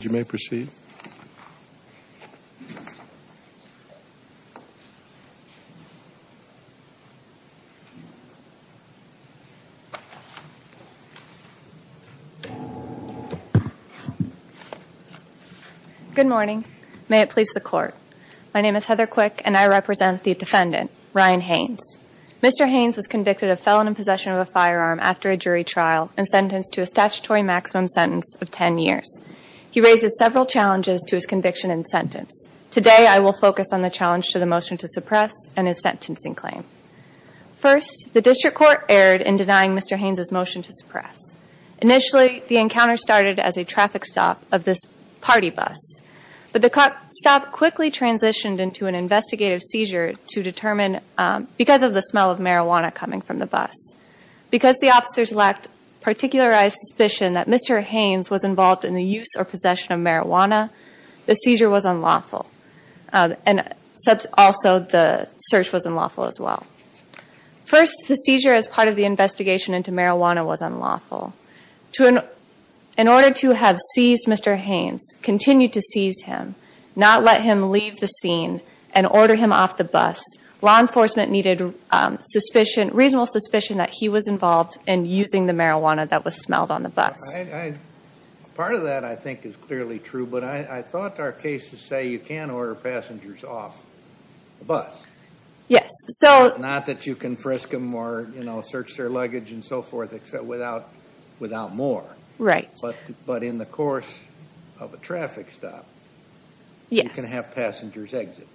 Good morning. May it please the court. My name is Heather Quick and I represent the defendant, Ryan Haynes. Mr. Haynes was convicted of felon in possession of a firearm after a jury trial and sentenced to a statutory maximum sentence of 10 years. He raises several challenges to his conviction and sentence. Today, I will focus on the challenge to the motion to suppress and his sentencing claim. First, the district court erred in denying Mr. Haynes' motion to suppress. Initially, the encounter started as a traffic stop of this party bus, but the stop quickly transitioned into an investigative seizure to determine of the smell of marijuana coming from the bus. Because the officers lacked particularized suspicion that Mr. Haynes was involved in the use or possession of marijuana, the seizure was unlawful. Also, the search was unlawful as well. First, the seizure as part of the investigation into marijuana was unlawful. In order to have seized Mr. Haynes, continue to seize him, not let him leave the scene and order him off the bus, law enforcement needed reasonable suspicion that he was involved in using the marijuana that was smelled on the bus. Part of that I think is clearly true, but I thought our cases say you can order passengers off the bus. Not that you can frisk them or search their luggage and so forth, except without more. But in the course of a traffic stop, you can have passengers exit.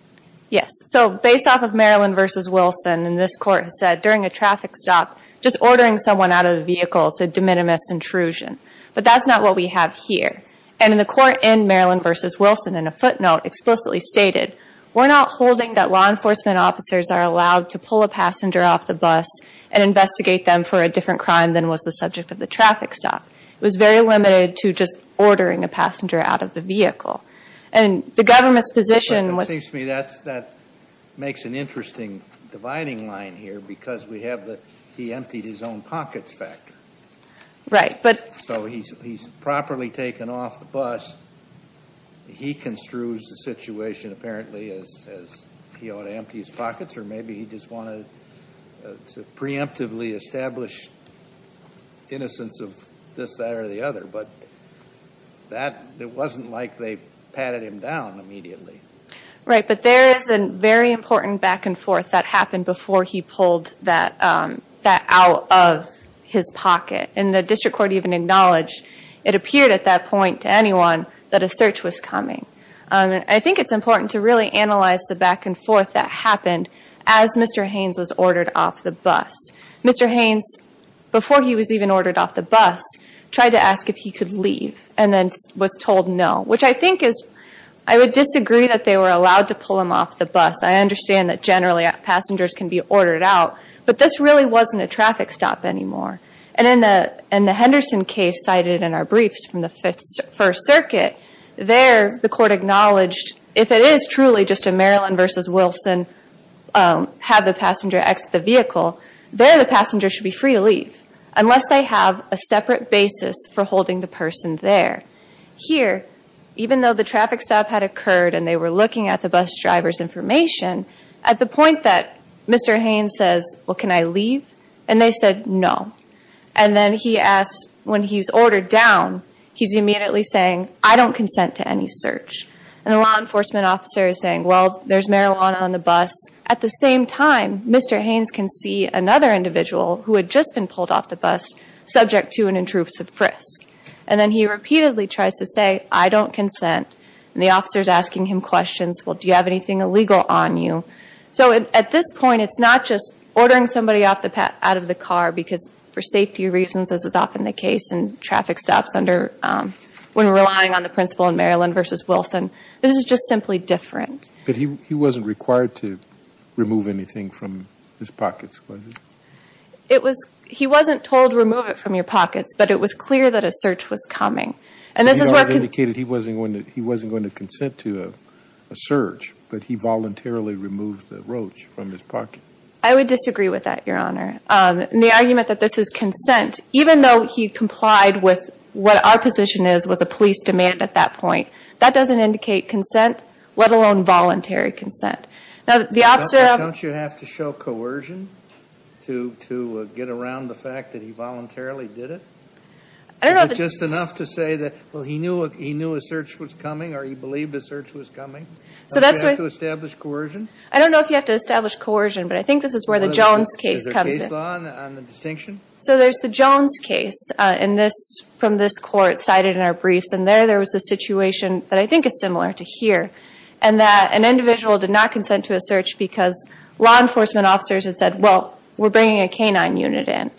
Yes. So, based off of Maryland v. Wilson, and this court has said, during a traffic stop, just ordering someone out of the vehicle is a de minimis intrusion. But that's not what we have here. And in the court in Maryland v. Wilson, in a footnote, explicitly stated, we're not holding that law enforcement officers are allowed to pull a passenger off the bus and investigate them for a different crime than was the subject of the traffic stop. It was very limited to just ordering a passenger out of the vehicle. And the government's position was But it seems to me that makes an interesting dividing line here, because we have the he emptied his own pockets factor. Right. But So he's properly taken off the bus. He construes the situation apparently as he ought to empty his pockets, or maybe he just wanted to preemptively establish innocence of this, that, or the other. But that, it wasn't like they patted him down immediately. Right. But there is a very important back and forth that happened before he pulled that out of his pocket. And the district court even acknowledged it appeared at that point to anyone that a search was coming. I think it's important to really analyze the back and forth that happened as Mr. Haynes was ordered off the bus. Mr. Haynes, before he was even ordered off the bus, tried to ask if he could leave and then was told no, which I think is, I would disagree that they were allowed to pull him off the bus. I understand that generally passengers can be ordered out, but this really wasn't a traffic stop anymore. And in the Henderson case cited in our briefs from the Fifth First Circuit, there the court acknowledged, if it is truly just a Maryland versus Wilson, have the passenger exit the vehicle, there the passenger should be free to leave, unless they have a separate basis for holding the person there. Here, even though the traffic stop had occurred and they were looking at the bus driver's information, at the point that Mr. Haynes says, well, can I leave? And they said no. And then he asked, when he's ordered down, he's immediately saying, I don't consent to any search. And the law enforcement officer is saying, well, there's marijuana on the bus. At the same time, Mr. Haynes can see another individual who had just been pulled off the bus, subject to an intrusive frisk. And then he repeatedly tries to say, I don't consent. And the officer's asking him questions, well, do you have anything illegal on you? So at this point, it's not just ordering somebody out of the car because for safety reasons, as is often the case in traffic stops under, when relying on the principal in Maryland versus Wilson, this is just simply different. But he wasn't required to remove anything from his pockets, was he? It was, he wasn't told, remove it from your pockets, but it was clear that a search was coming. And this is where I indicated he wasn't going to, he wasn't going to consent to a search, but he voluntarily removed the roach from his pocket. I would disagree with that, Your Honor. And the argument that this is consent, even though he complied with what our position is, was a police demand at that point, that doesn't indicate consent, let alone voluntary consent. Now, the officer... But don't you have to show coercion to get around the fact that he voluntarily did it? I don't know... Is it just enough to say that, well, he knew a search was coming, or he believed a search was coming? So that's... Don't you have to establish coercion? I don't know if you have to establish coercion, but I think this is where the Jones case comes in. Is there case law on the distinction? So there's the Jones case in this, from this court, cited in our briefs, and there, there was a situation that I think is similar to here, and that an individual did not consent to a search because law enforcement officers had said, well, we're bringing a canine unit in.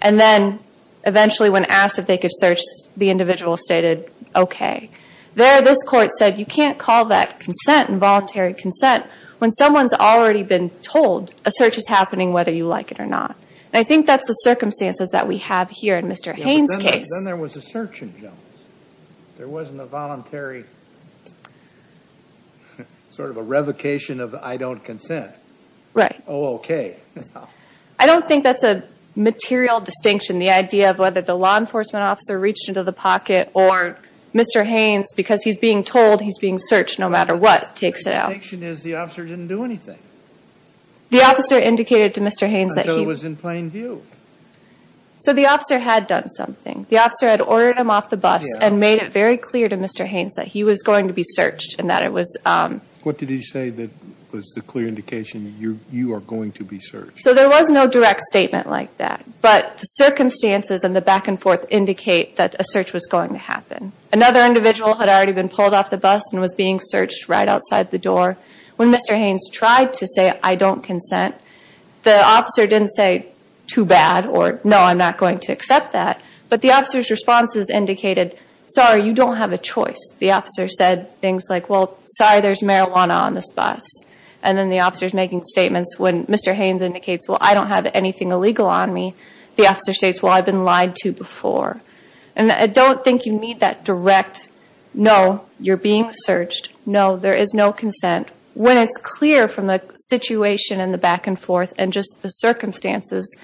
And then, eventually, when asked if they could search, the individual stated, okay. There, this court said, you can't call that consent, involuntary consent, when someone's already been told a search is happening, whether you like it or not. And I think that's the circumstances that we have here in Mr. Haynes' case. Yeah, but then there was a search in Jones. There wasn't a voluntary... sort of a revocation of I don't consent. Right. Oh, okay. I don't think that's a material distinction, the idea of whether the law enforcement officer reached into the pocket, or Mr. Haynes, because he's being told he's being searched no matter what, takes it out. The distinction is the officer didn't do anything. The officer indicated to Mr. Haynes that he... Until it was in plain view. So the officer had done something. The officer had ordered him off the bus and made it very clear to Mr. Haynes that he was going to be searched, and that it was... What did he say that was the clear indication, you are going to be searched? So there was no direct statement like that. But the circumstances and the back and forth indicate that a search was going to happen. Another individual had already been pulled off the bus and was being searched right outside the door. When Mr. Haynes tried to say I don't consent, the officer didn't say too bad, or no, I'm not going to accept that. But the officer's responses indicated, sorry, you don't have a choice. The officer said things like, well, sorry, there's marijuana on this bus. And then the officer's making statements when Mr. Haynes indicates, well, I don't have anything illegal on me. The officer states, well, I've been lied to before. And I don't think you need that direct, no, you're being searched, no, there is no consent, when it's clear from the situation and the back and forth and just the circumstances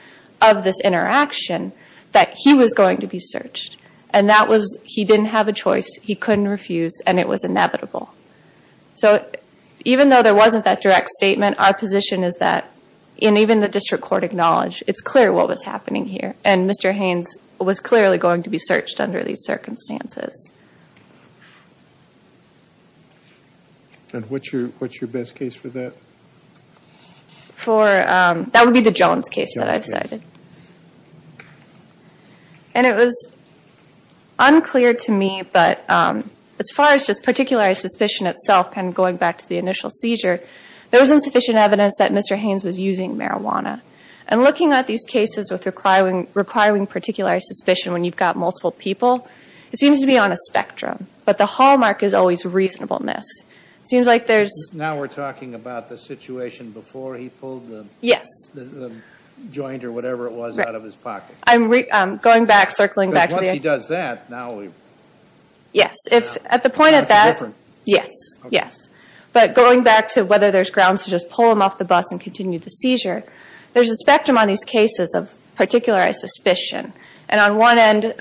of this interaction that he was going to be searched. And that was, he didn't have a choice, he couldn't refuse, and it was inevitable. So even though there wasn't that direct statement, our position is that, and even the district court acknowledged, it's clear what was happening here. And Mr. Haynes was clearly going to be searched under these circumstances. And what's your best case for that? For, that would be the Jones case that I've cited. And it was unclear to me, but as far as just particularly suspicion itself, kind of going back to the initial seizure, there was insufficient evidence that Mr. Haynes was using marijuana. And looking at these cases with requiring particular suspicion when you've got multiple people, it seems to be on a spectrum. But the hallmark is always reasonableness. It seems like there's- Now we're talking about the situation before he pulled the- Yes. The joint or whatever it was out of his pocket. I'm going back, circling back to the- Because once he does that, now we're- Yes. At the point of that- That's different. Yes. Yes. But going back to whether there's grounds to just pull him off the bus and continue the seizure, there's a spectrum on these cases of particular suspicion. And on one end,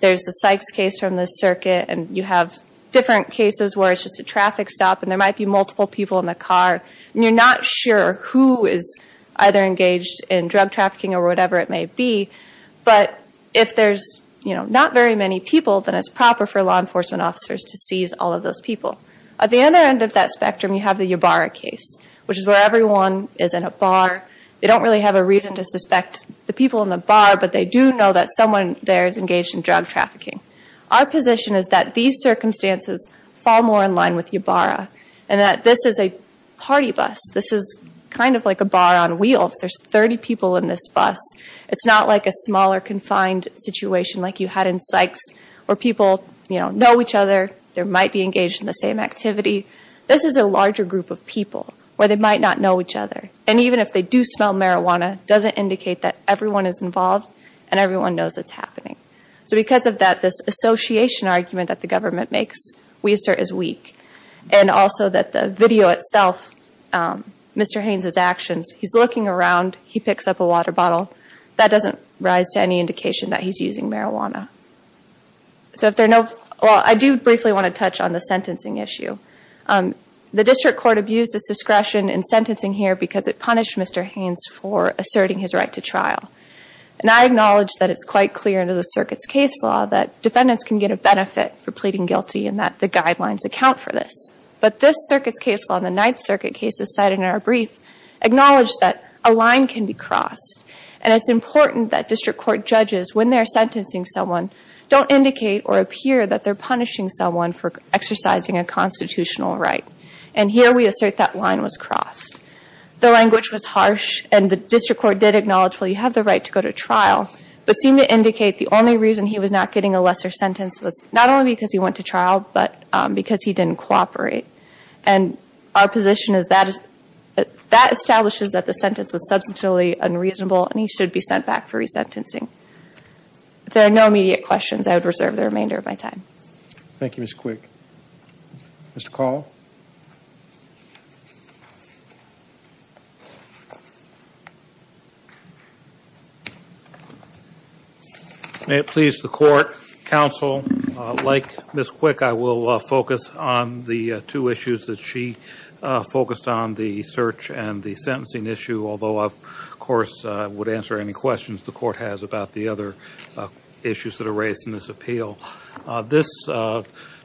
there's the Sykes case from the circuit, and you have different cases where it's just a traffic stop, and there might be multiple people in the car, and you're not sure who is either engaged in drug trafficking or whatever it may be. But if there's not very many people, then it's proper for law enforcement officers to seize all of those people. At the other end of that spectrum, you have the Ybarra case, which is where everyone is in a bar. They don't really have a reason to suspect the people in the bar, but they do know that someone there is engaged in drug trafficking. Our position is that these circumstances fall more in line with Ybarra, and that this is a party bus. This is kind of like a bar on wheels. There's 30 people in this bus. It's not like a smaller, confined situation like you had in Sykes, where people know each other, they might be engaged in the same activity. This is a larger group of people, where they might not know each other. And even if they do smell marijuana, it doesn't indicate that everyone is involved, and everyone knows it's happening. So because of that, this association argument that the government makes, we assert is weak. And also that the video itself, Mr. Haynes' actions, he's looking around, he picks up a water bottle, that doesn't rise to any indication that he's using marijuana. So if there are no, well, I do briefly want to touch on the sentencing issue. The district court abused its discretion in sentencing here because it punished Mr. Haynes for asserting his right to trial. And I acknowledge that it's quite clear under the circuit's case law that defendants can get a benefit for pleading guilty, and that the guidelines account for this. But this circuit's case law, the Ninth Circuit case is cited in our brief, acknowledged that a line can be crossed. And it's important that district court judges, when they're sentencing someone, don't indicate or appear that they're punishing someone for exercising a constitutional right. And here we assert that line was crossed. The language was harsh, and the district court did acknowledge, well, you have the right to go to trial, but seemed to indicate the only reason he was not getting a lesser sentence was not only because he went to trial, but because he didn't cooperate. And our position is that establishes that the sentence was substantively unreasonable, and he should be sent back for resentencing. If there are no immediate questions, I would reserve the remainder of my time. Thank you, Ms. Quick. Mr. Call? May it please the court, counsel, like Ms. Quick, I will focus on the two questions that she focused on, the search and the sentencing issue, although I, of course, would answer any questions the court has about the other issues that are raised in this appeal. This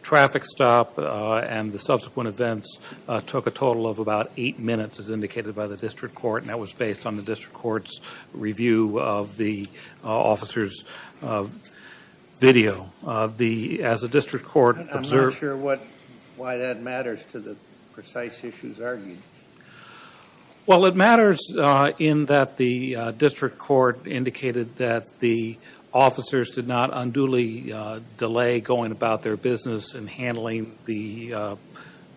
traffic stop and the subsequent events took a total of about eight minutes, as indicated by the district court, and that was based on the district court's review of the officer's video. I'm not sure why that matters to the precise issues argued. Well, it matters in that the district court indicated that the officers did not unduly delay going about their business and handling the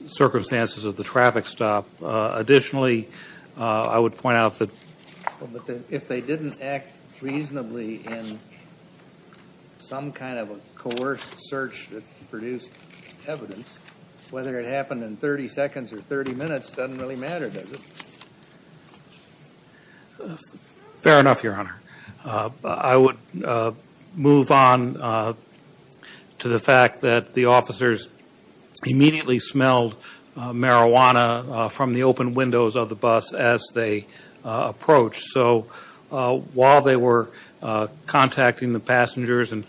circumstances of the traffic stop. Additionally, I would point out that if they didn't act reasonably in some kind of a coerced search that produced evidence, whether it happened in 30 seconds or 30 minutes doesn't really matter, does it? Fair enough, Your Honor. I would move on to the fact that the officers immediately smelled marijuana from the open windows of the bus as they approached, so while they were contacting the passengers and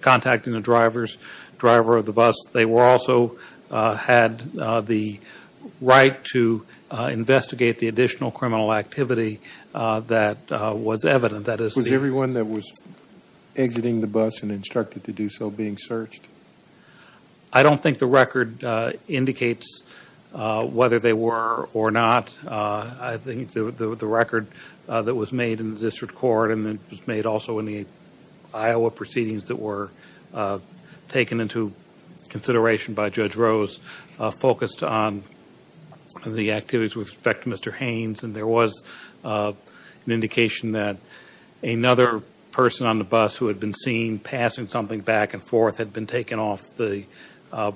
contacting the driver of the bus, they also had the right to investigate the additional criminal activity that was evident. Was everyone that was exiting the bus and instructed to do so being searched? I don't think the record indicates whether they were or not. I think the record that was made in the district court and that was made also in the Iowa proceedings that were taken into consideration by Judge Rose focused on the activities with respect to Mr. Haynes, and there was an indication that another person on the bus who had been seen passing something back and forth had been taken off the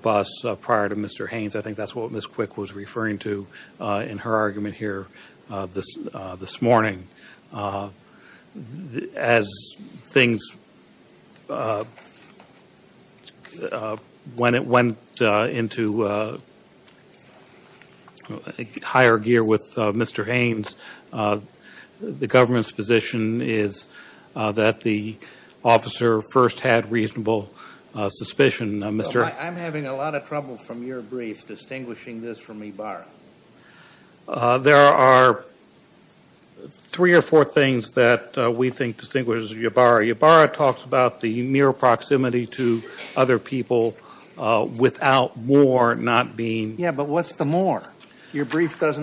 bus prior to Mr. Haynes. I think that's what Ms. Quick was referring to in her argument here this morning. When it went into higher gear with Mr. Haynes, the government's position is that the officer first had reasonable suspicion. I'm having a lot of trouble from your brief distinguishing this from Ybarra. There are three or four things that we think distinguish Ybarra. Ybarra talks about the mere proximity to other people without more not being... Yeah, but what's the more? Your brief says,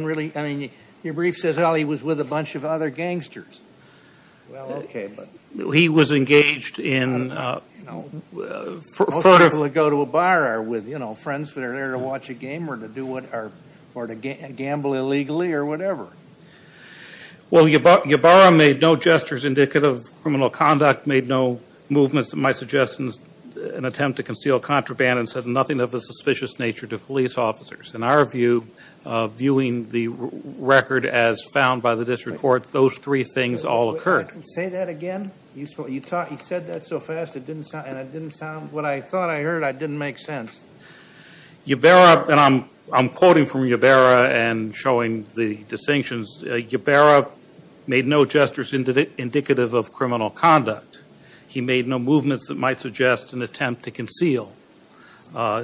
well, he was with a bunch of other gangsters. Well, okay, but... He was engaged in... Most people that go to a bar are with friends that are there to watch a game or to gamble illegally or whatever. Well, Ybarra made no gestures indicative of criminal conduct, made no movements that might suggest an attempt to conceal contraband, and said nothing of a suspicious nature to police officers. In our view, viewing the record as found by the district court, those three things all occurred. Say that again. You said that so fast and it didn't sound... When I thought I heard it, it didn't make sense. Ybarra, and I'm quoting from Ybarra and showing the distinctions, Ybarra made no gestures indicative of criminal conduct. He made no movements that might suggest an attempt to conceal.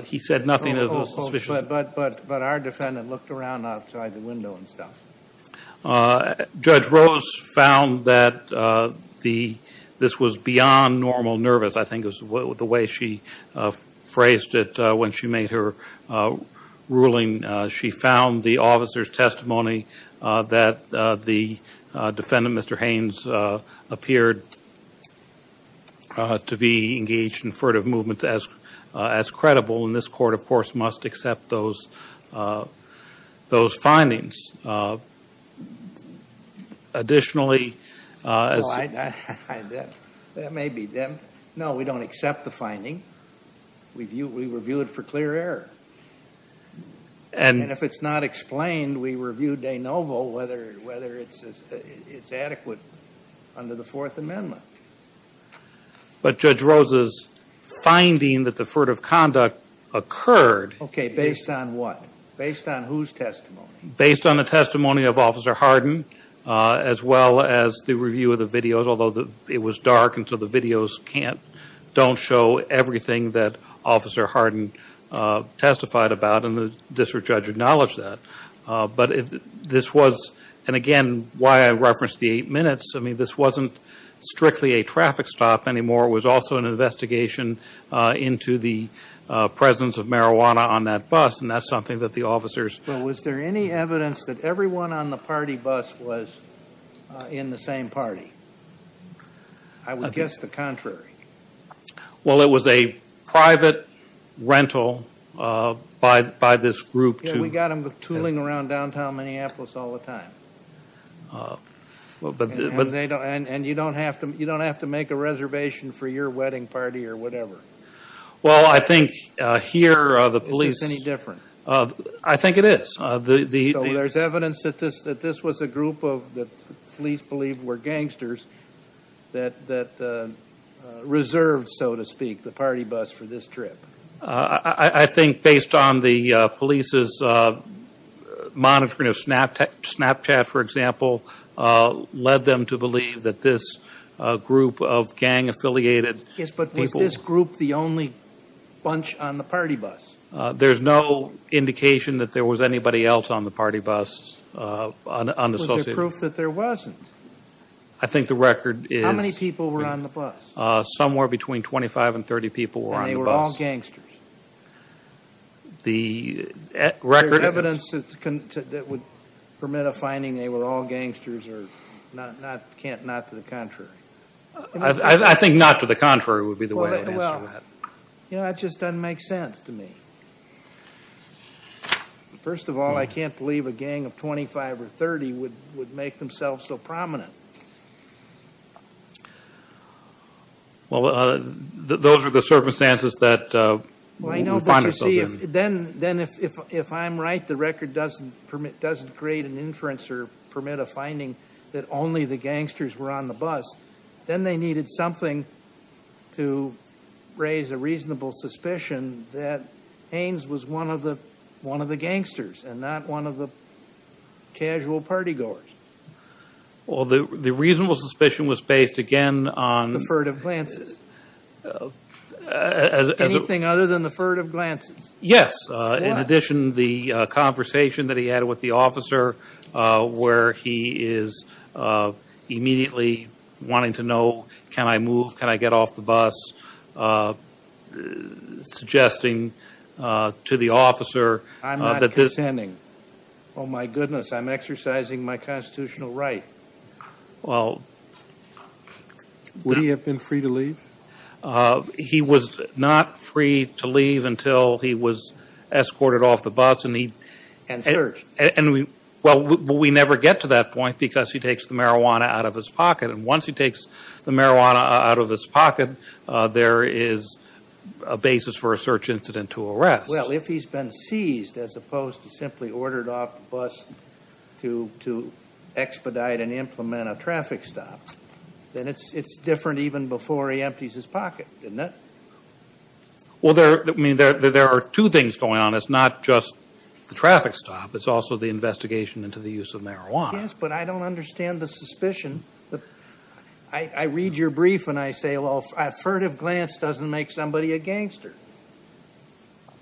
He said nothing of a suspicious... But our defendant looked around outside the window and stuff. Judge Rose found that this was beyond normal nervous, I think is the way she phrased it when she made her ruling. She found the officer's testimony that the defendant, Mr. Haynes, appeared to be engaged in furtive movements as credible, and this court, of course, must accept those findings. Additionally... That may be them. No, we don't accept the finding. We review it for clear error. If it's not explained, we review de novo whether it's adequate under the Fourth Amendment. But, Judge Rose's finding that the furtive conduct occurred... Okay, based on what? Based on whose testimony? Based on the testimony of Officer Hardin, as well as the review of the videos, although it was dark and so the videos don't show everything that Officer Hardin testified about, and the district judge acknowledged that. But this was, and again, why I referenced the eight minutes, I mean, this wasn't strictly a traffic stop anymore. It was also an investigation into the presence of marijuana on that bus, and that's something that the officers... But was there any evidence that everyone on the party bus was in the same party? I would guess the contrary. We got them tooling around downtown Minneapolis all the time, and you don't have to make a reservation for your wedding party or whatever. Well, I think here the police... Is this any different? I think it is. There's evidence that this was a group of, the police believe, were gangsters that reserved, so to speak, the party bus for this trip. I think based on the police's monitoring of Snapchat, for example, led them to believe that this group of gang-affiliated people... Yes, but was this group the only bunch on the party bus? There's no indication that there was anybody else on the party bus, unassociated. Was there proof that there wasn't? I think the record is... How many people were on the bus? Somewhere between 25 and 30 people were on the bus. And they were all gangsters? The record... Is there evidence that would permit a finding they were all gangsters or not to the contrary? I think not to the contrary would be the way to answer that. Well, that just doesn't make sense to me. First of all, I can't believe a gang of 25 or 30 would make themselves so prominent. Well, those are the circumstances that... Well, I know, but you see, then if I'm right, the record doesn't create an inference or permit a finding that only the gangsters were on the bus, then they needed something to raise a reasonable suspicion that Haynes was one of the gangsters and not one of the casual party goers. Well, the reasonable suspicion was based, again, on... The furtive glances, anything other than the furtive glances. Yes, in addition, the conversation that he had with the officer where he is immediately wanting to know, can I move, can I get off the bus, suggesting to the officer that this... I'm not consenting. Oh my goodness, I'm exercising my constitutional right. Well... Would he have been free to leave? He was not free to leave until he was escorted off the bus and he... And searched. And we... Well, we never get to that point because he takes the marijuana out of his pocket and once he takes the marijuana out of his pocket, there is a basis for a search incident to arrest. Well, if he's been seized as opposed to simply ordered off the bus to expedite and implement a traffic stop, then it's different even before he empties his pocket, isn't it? There are two things going on. It's not just the traffic stop. It's also the investigation into the use of marijuana. Yes, but I don't understand the suspicion. I read your brief and I say, well, a furtive glance doesn't make somebody a gangster.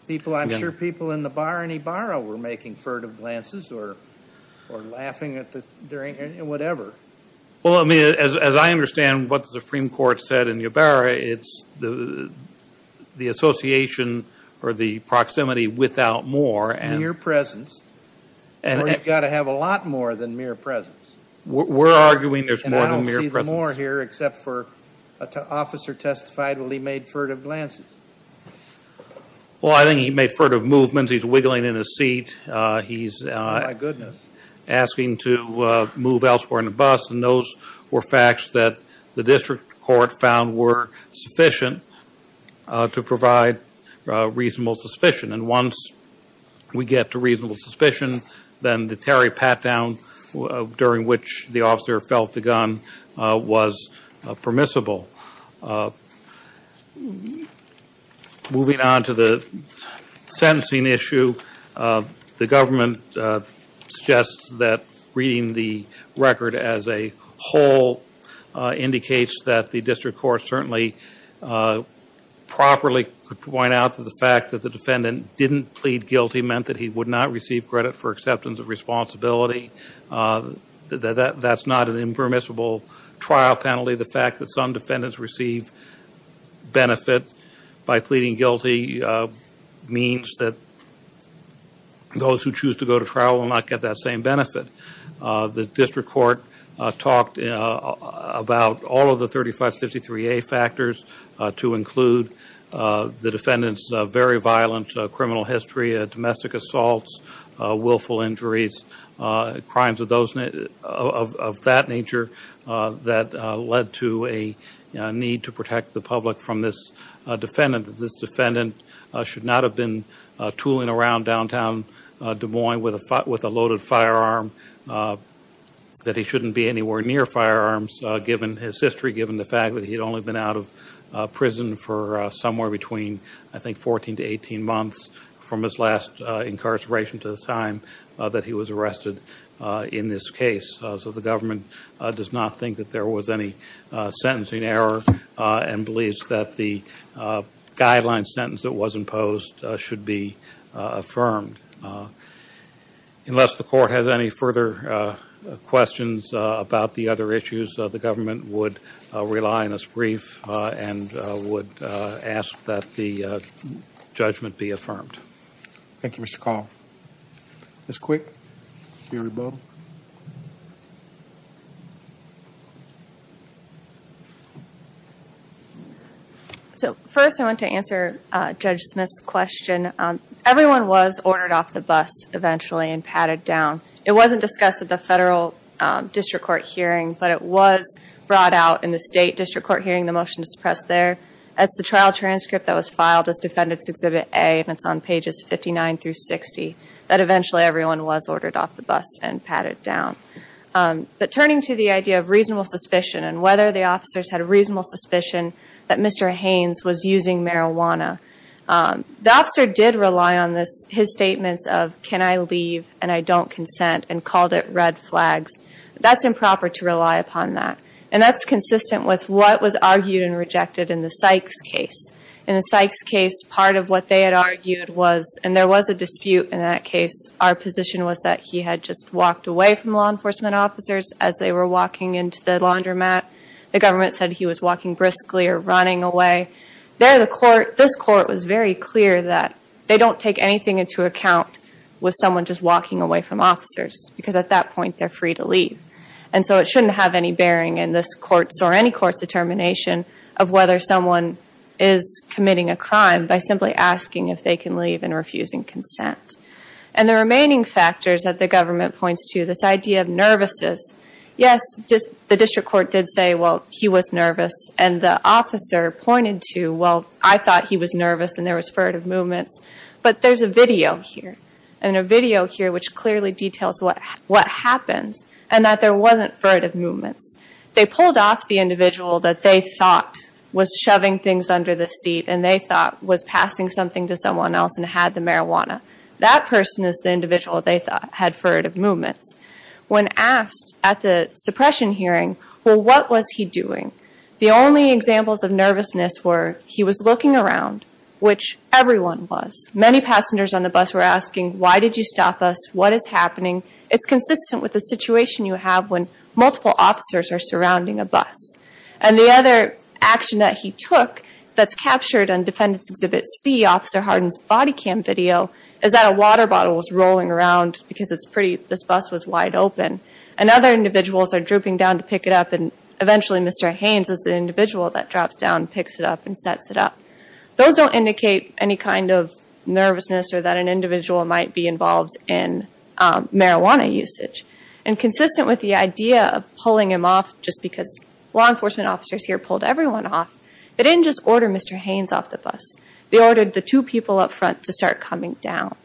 I'm sure people in the bar in Ybarra were making furtive glances or laughing at the... during... whatever. Well, I mean, as I understand what the Supreme Court said in Ybarra, it's the association or the proximity without more and... Mere presence. Or you've got to have a lot more than mere presence. We're arguing there's more than mere presence. I don't see the more here except for an officer testified while he made furtive glances. Well, I think he made furtive movements. He's wiggling in his seat. He's... Oh, my goodness. Asking to move elsewhere in the bus, and those were facts that the district court found were sufficient to provide reasonable suspicion. And once we get to reasonable suspicion, then the Terry pat-down during which the officer felt the gun was permissible. Moving on to the sentencing issue, the government suggests that reading the record as a whole indicates that the district court certainly properly could point out that the fact that the defendant didn't plead guilty meant that he would not receive credit for acceptance of responsibility. That's not an impermissible trial penalty. The fact that some defendants receive benefit by pleading guilty means that those who choose to go to trial will not get that same benefit. The district court talked about all of the 3553A factors to include the defendant's very histories, crimes of that nature that led to a need to protect the public from this defendant. This defendant should not have been tooling around downtown Des Moines with a loaded firearm, that he shouldn't be anywhere near firearms given his history, given the fact that he'd only been out of prison for somewhere between, I think, 14 to 18 months from his last incarceration to the time that he was arrested in this case. So the government does not think that there was any sentencing error and believes that the guideline sentence that was imposed should be affirmed. Unless the court has any further questions about the other issues, the government would rely on this brief and would ask that the judgment be affirmed. Thank you, Mr. Call. Ms. Quick. So first I want to answer Judge Smith's question. Everyone was ordered off the bus eventually and patted down. It wasn't discussed at the federal district court hearing, but it was brought out in the state district court hearing, the motion to suppress there. That's the trial transcript that was filed as Defendant's Exhibit A, and it's on pages 59 through 60, that eventually everyone was ordered off the bus and patted down. But turning to the idea of reasonable suspicion and whether the officers had a reasonable suspicion that Mr. Haynes was using marijuana, the officer did rely on his statements of can I leave and I don't consent and called it red flags. That's improper to rely upon that. And that's consistent with what was argued and rejected in the Sykes case. In the Sykes case, part of what they had argued was, and there was a dispute in that case, our position was that he had just walked away from law enforcement officers as they were walking into the laundromat. The government said he was walking briskly or running away. There the court, this court was very clear that they don't take anything into account with someone just walking away from officers, because at that point they're free to leave. And so it shouldn't have any bearing in this court's or any court's determination of whether someone is committing a crime by simply asking if they can leave and refusing consent. And the remaining factors that the government points to, this idea of nervousness, yes, the district court did say, well, he was nervous, and the officer pointed to, well, I thought he was nervous and there was furtive movements, but there's a video here, and a video here which clearly details what happens and that there wasn't furtive movements. They pulled off the individual that they thought was shoving things under the seat and they thought was passing something to someone else and had the marijuana. That person is the individual they thought had furtive movements. When asked at the suppression hearing, well, what was he doing? The only examples of nervousness were he was looking around, which everyone was. Many passengers on the bus were asking, why did you stop us? What is happening? It's consistent with the situation you have when multiple officers are surrounding a bus. And the other action that he took that's captured on Defendant's Exhibit C, Officer Hardin's body cam video, is that a water bottle was rolling around because it's pretty, this bus was wide open, and other individuals are drooping down to pick it up, and eventually Mr. Haynes is the individual that drops down, picks it up, and sets it up. Those don't indicate any kind of nervousness or that an individual might be involved in marijuana usage. And consistent with the idea of pulling him off just because law enforcement officers here pulled everyone off, they didn't just order Mr. Haynes off the bus. They ordered the two people up front to start coming down.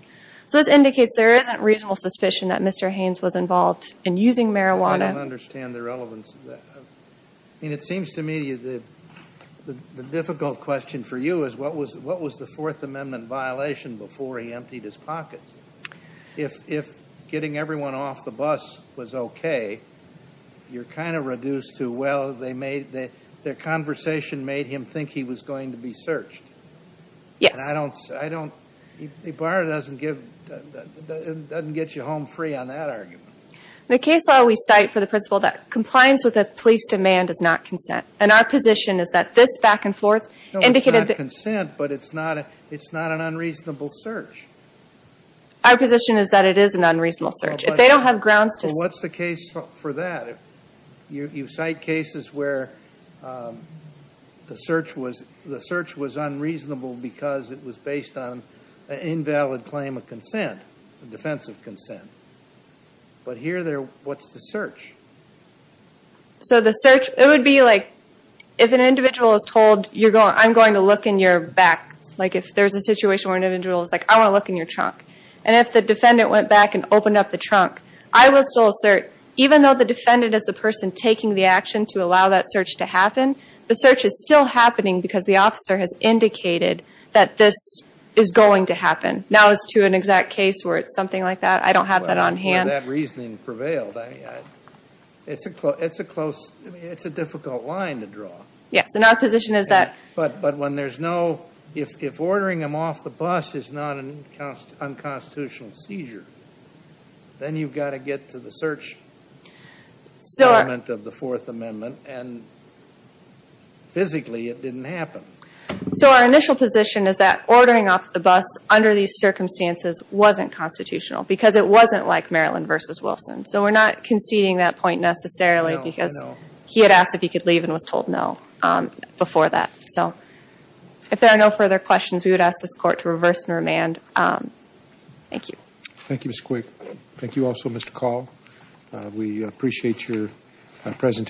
So this indicates there isn't reasonable suspicion that Mr. Haynes was involved in using marijuana. I don't understand the relevance of that. I mean, it seems to me the difficult question for you is what was the Fourth Amendment violation before he emptied his pockets? If getting everyone off the bus was okay, you're kind of reduced to, well, they made, their conversation made him think he was going to be searched. Yes. And I don't, I don't, the bar doesn't give, doesn't get you home free on that argument. The case law we cite for the principle that compliance with a police demand is not consent. And our position is that this back and forth indicated that... No, it's not consent, but it's not an unreasonable search. Our position is that it is an unreasonable search. If they don't have grounds to... Well, what's the case for that? You cite cases where the search was unreasonable because it was based on an invalid claim of consent, a defense of consent. But here they're, what's the search? So the search, it would be like if an individual is told you're going, I'm going to look in your back. Like if there's a situation where an individual is like, I want to look in your trunk. And if the defendant went back and opened up the trunk, I will still assert, even though the defendant is the person taking the action to allow that search to happen, the search is still happening because the officer has indicated that this is going to happen. Now as to an exact case where it's something like that, I don't have that on hand. That reasoning prevailed. It's a close, it's a difficult line to draw. Yes, and our position is that... But when there's no, if ordering them off the bus is not an unconstitutional seizure, then you've got to get to the search element of the Fourth Amendment, and physically it didn't happen. So our initial position is that ordering off the bus under these circumstances wasn't constitutional because it wasn't like Maryland v. Wilson. So we're not conceding that point necessarily because he had asked if he could leave and was told no before that. So if there are no further questions, we would ask this Court to reverse and remand. Thank you. Thank you, Ms. Quick. Thank you also, Mr. Call. We appreciate your presentation.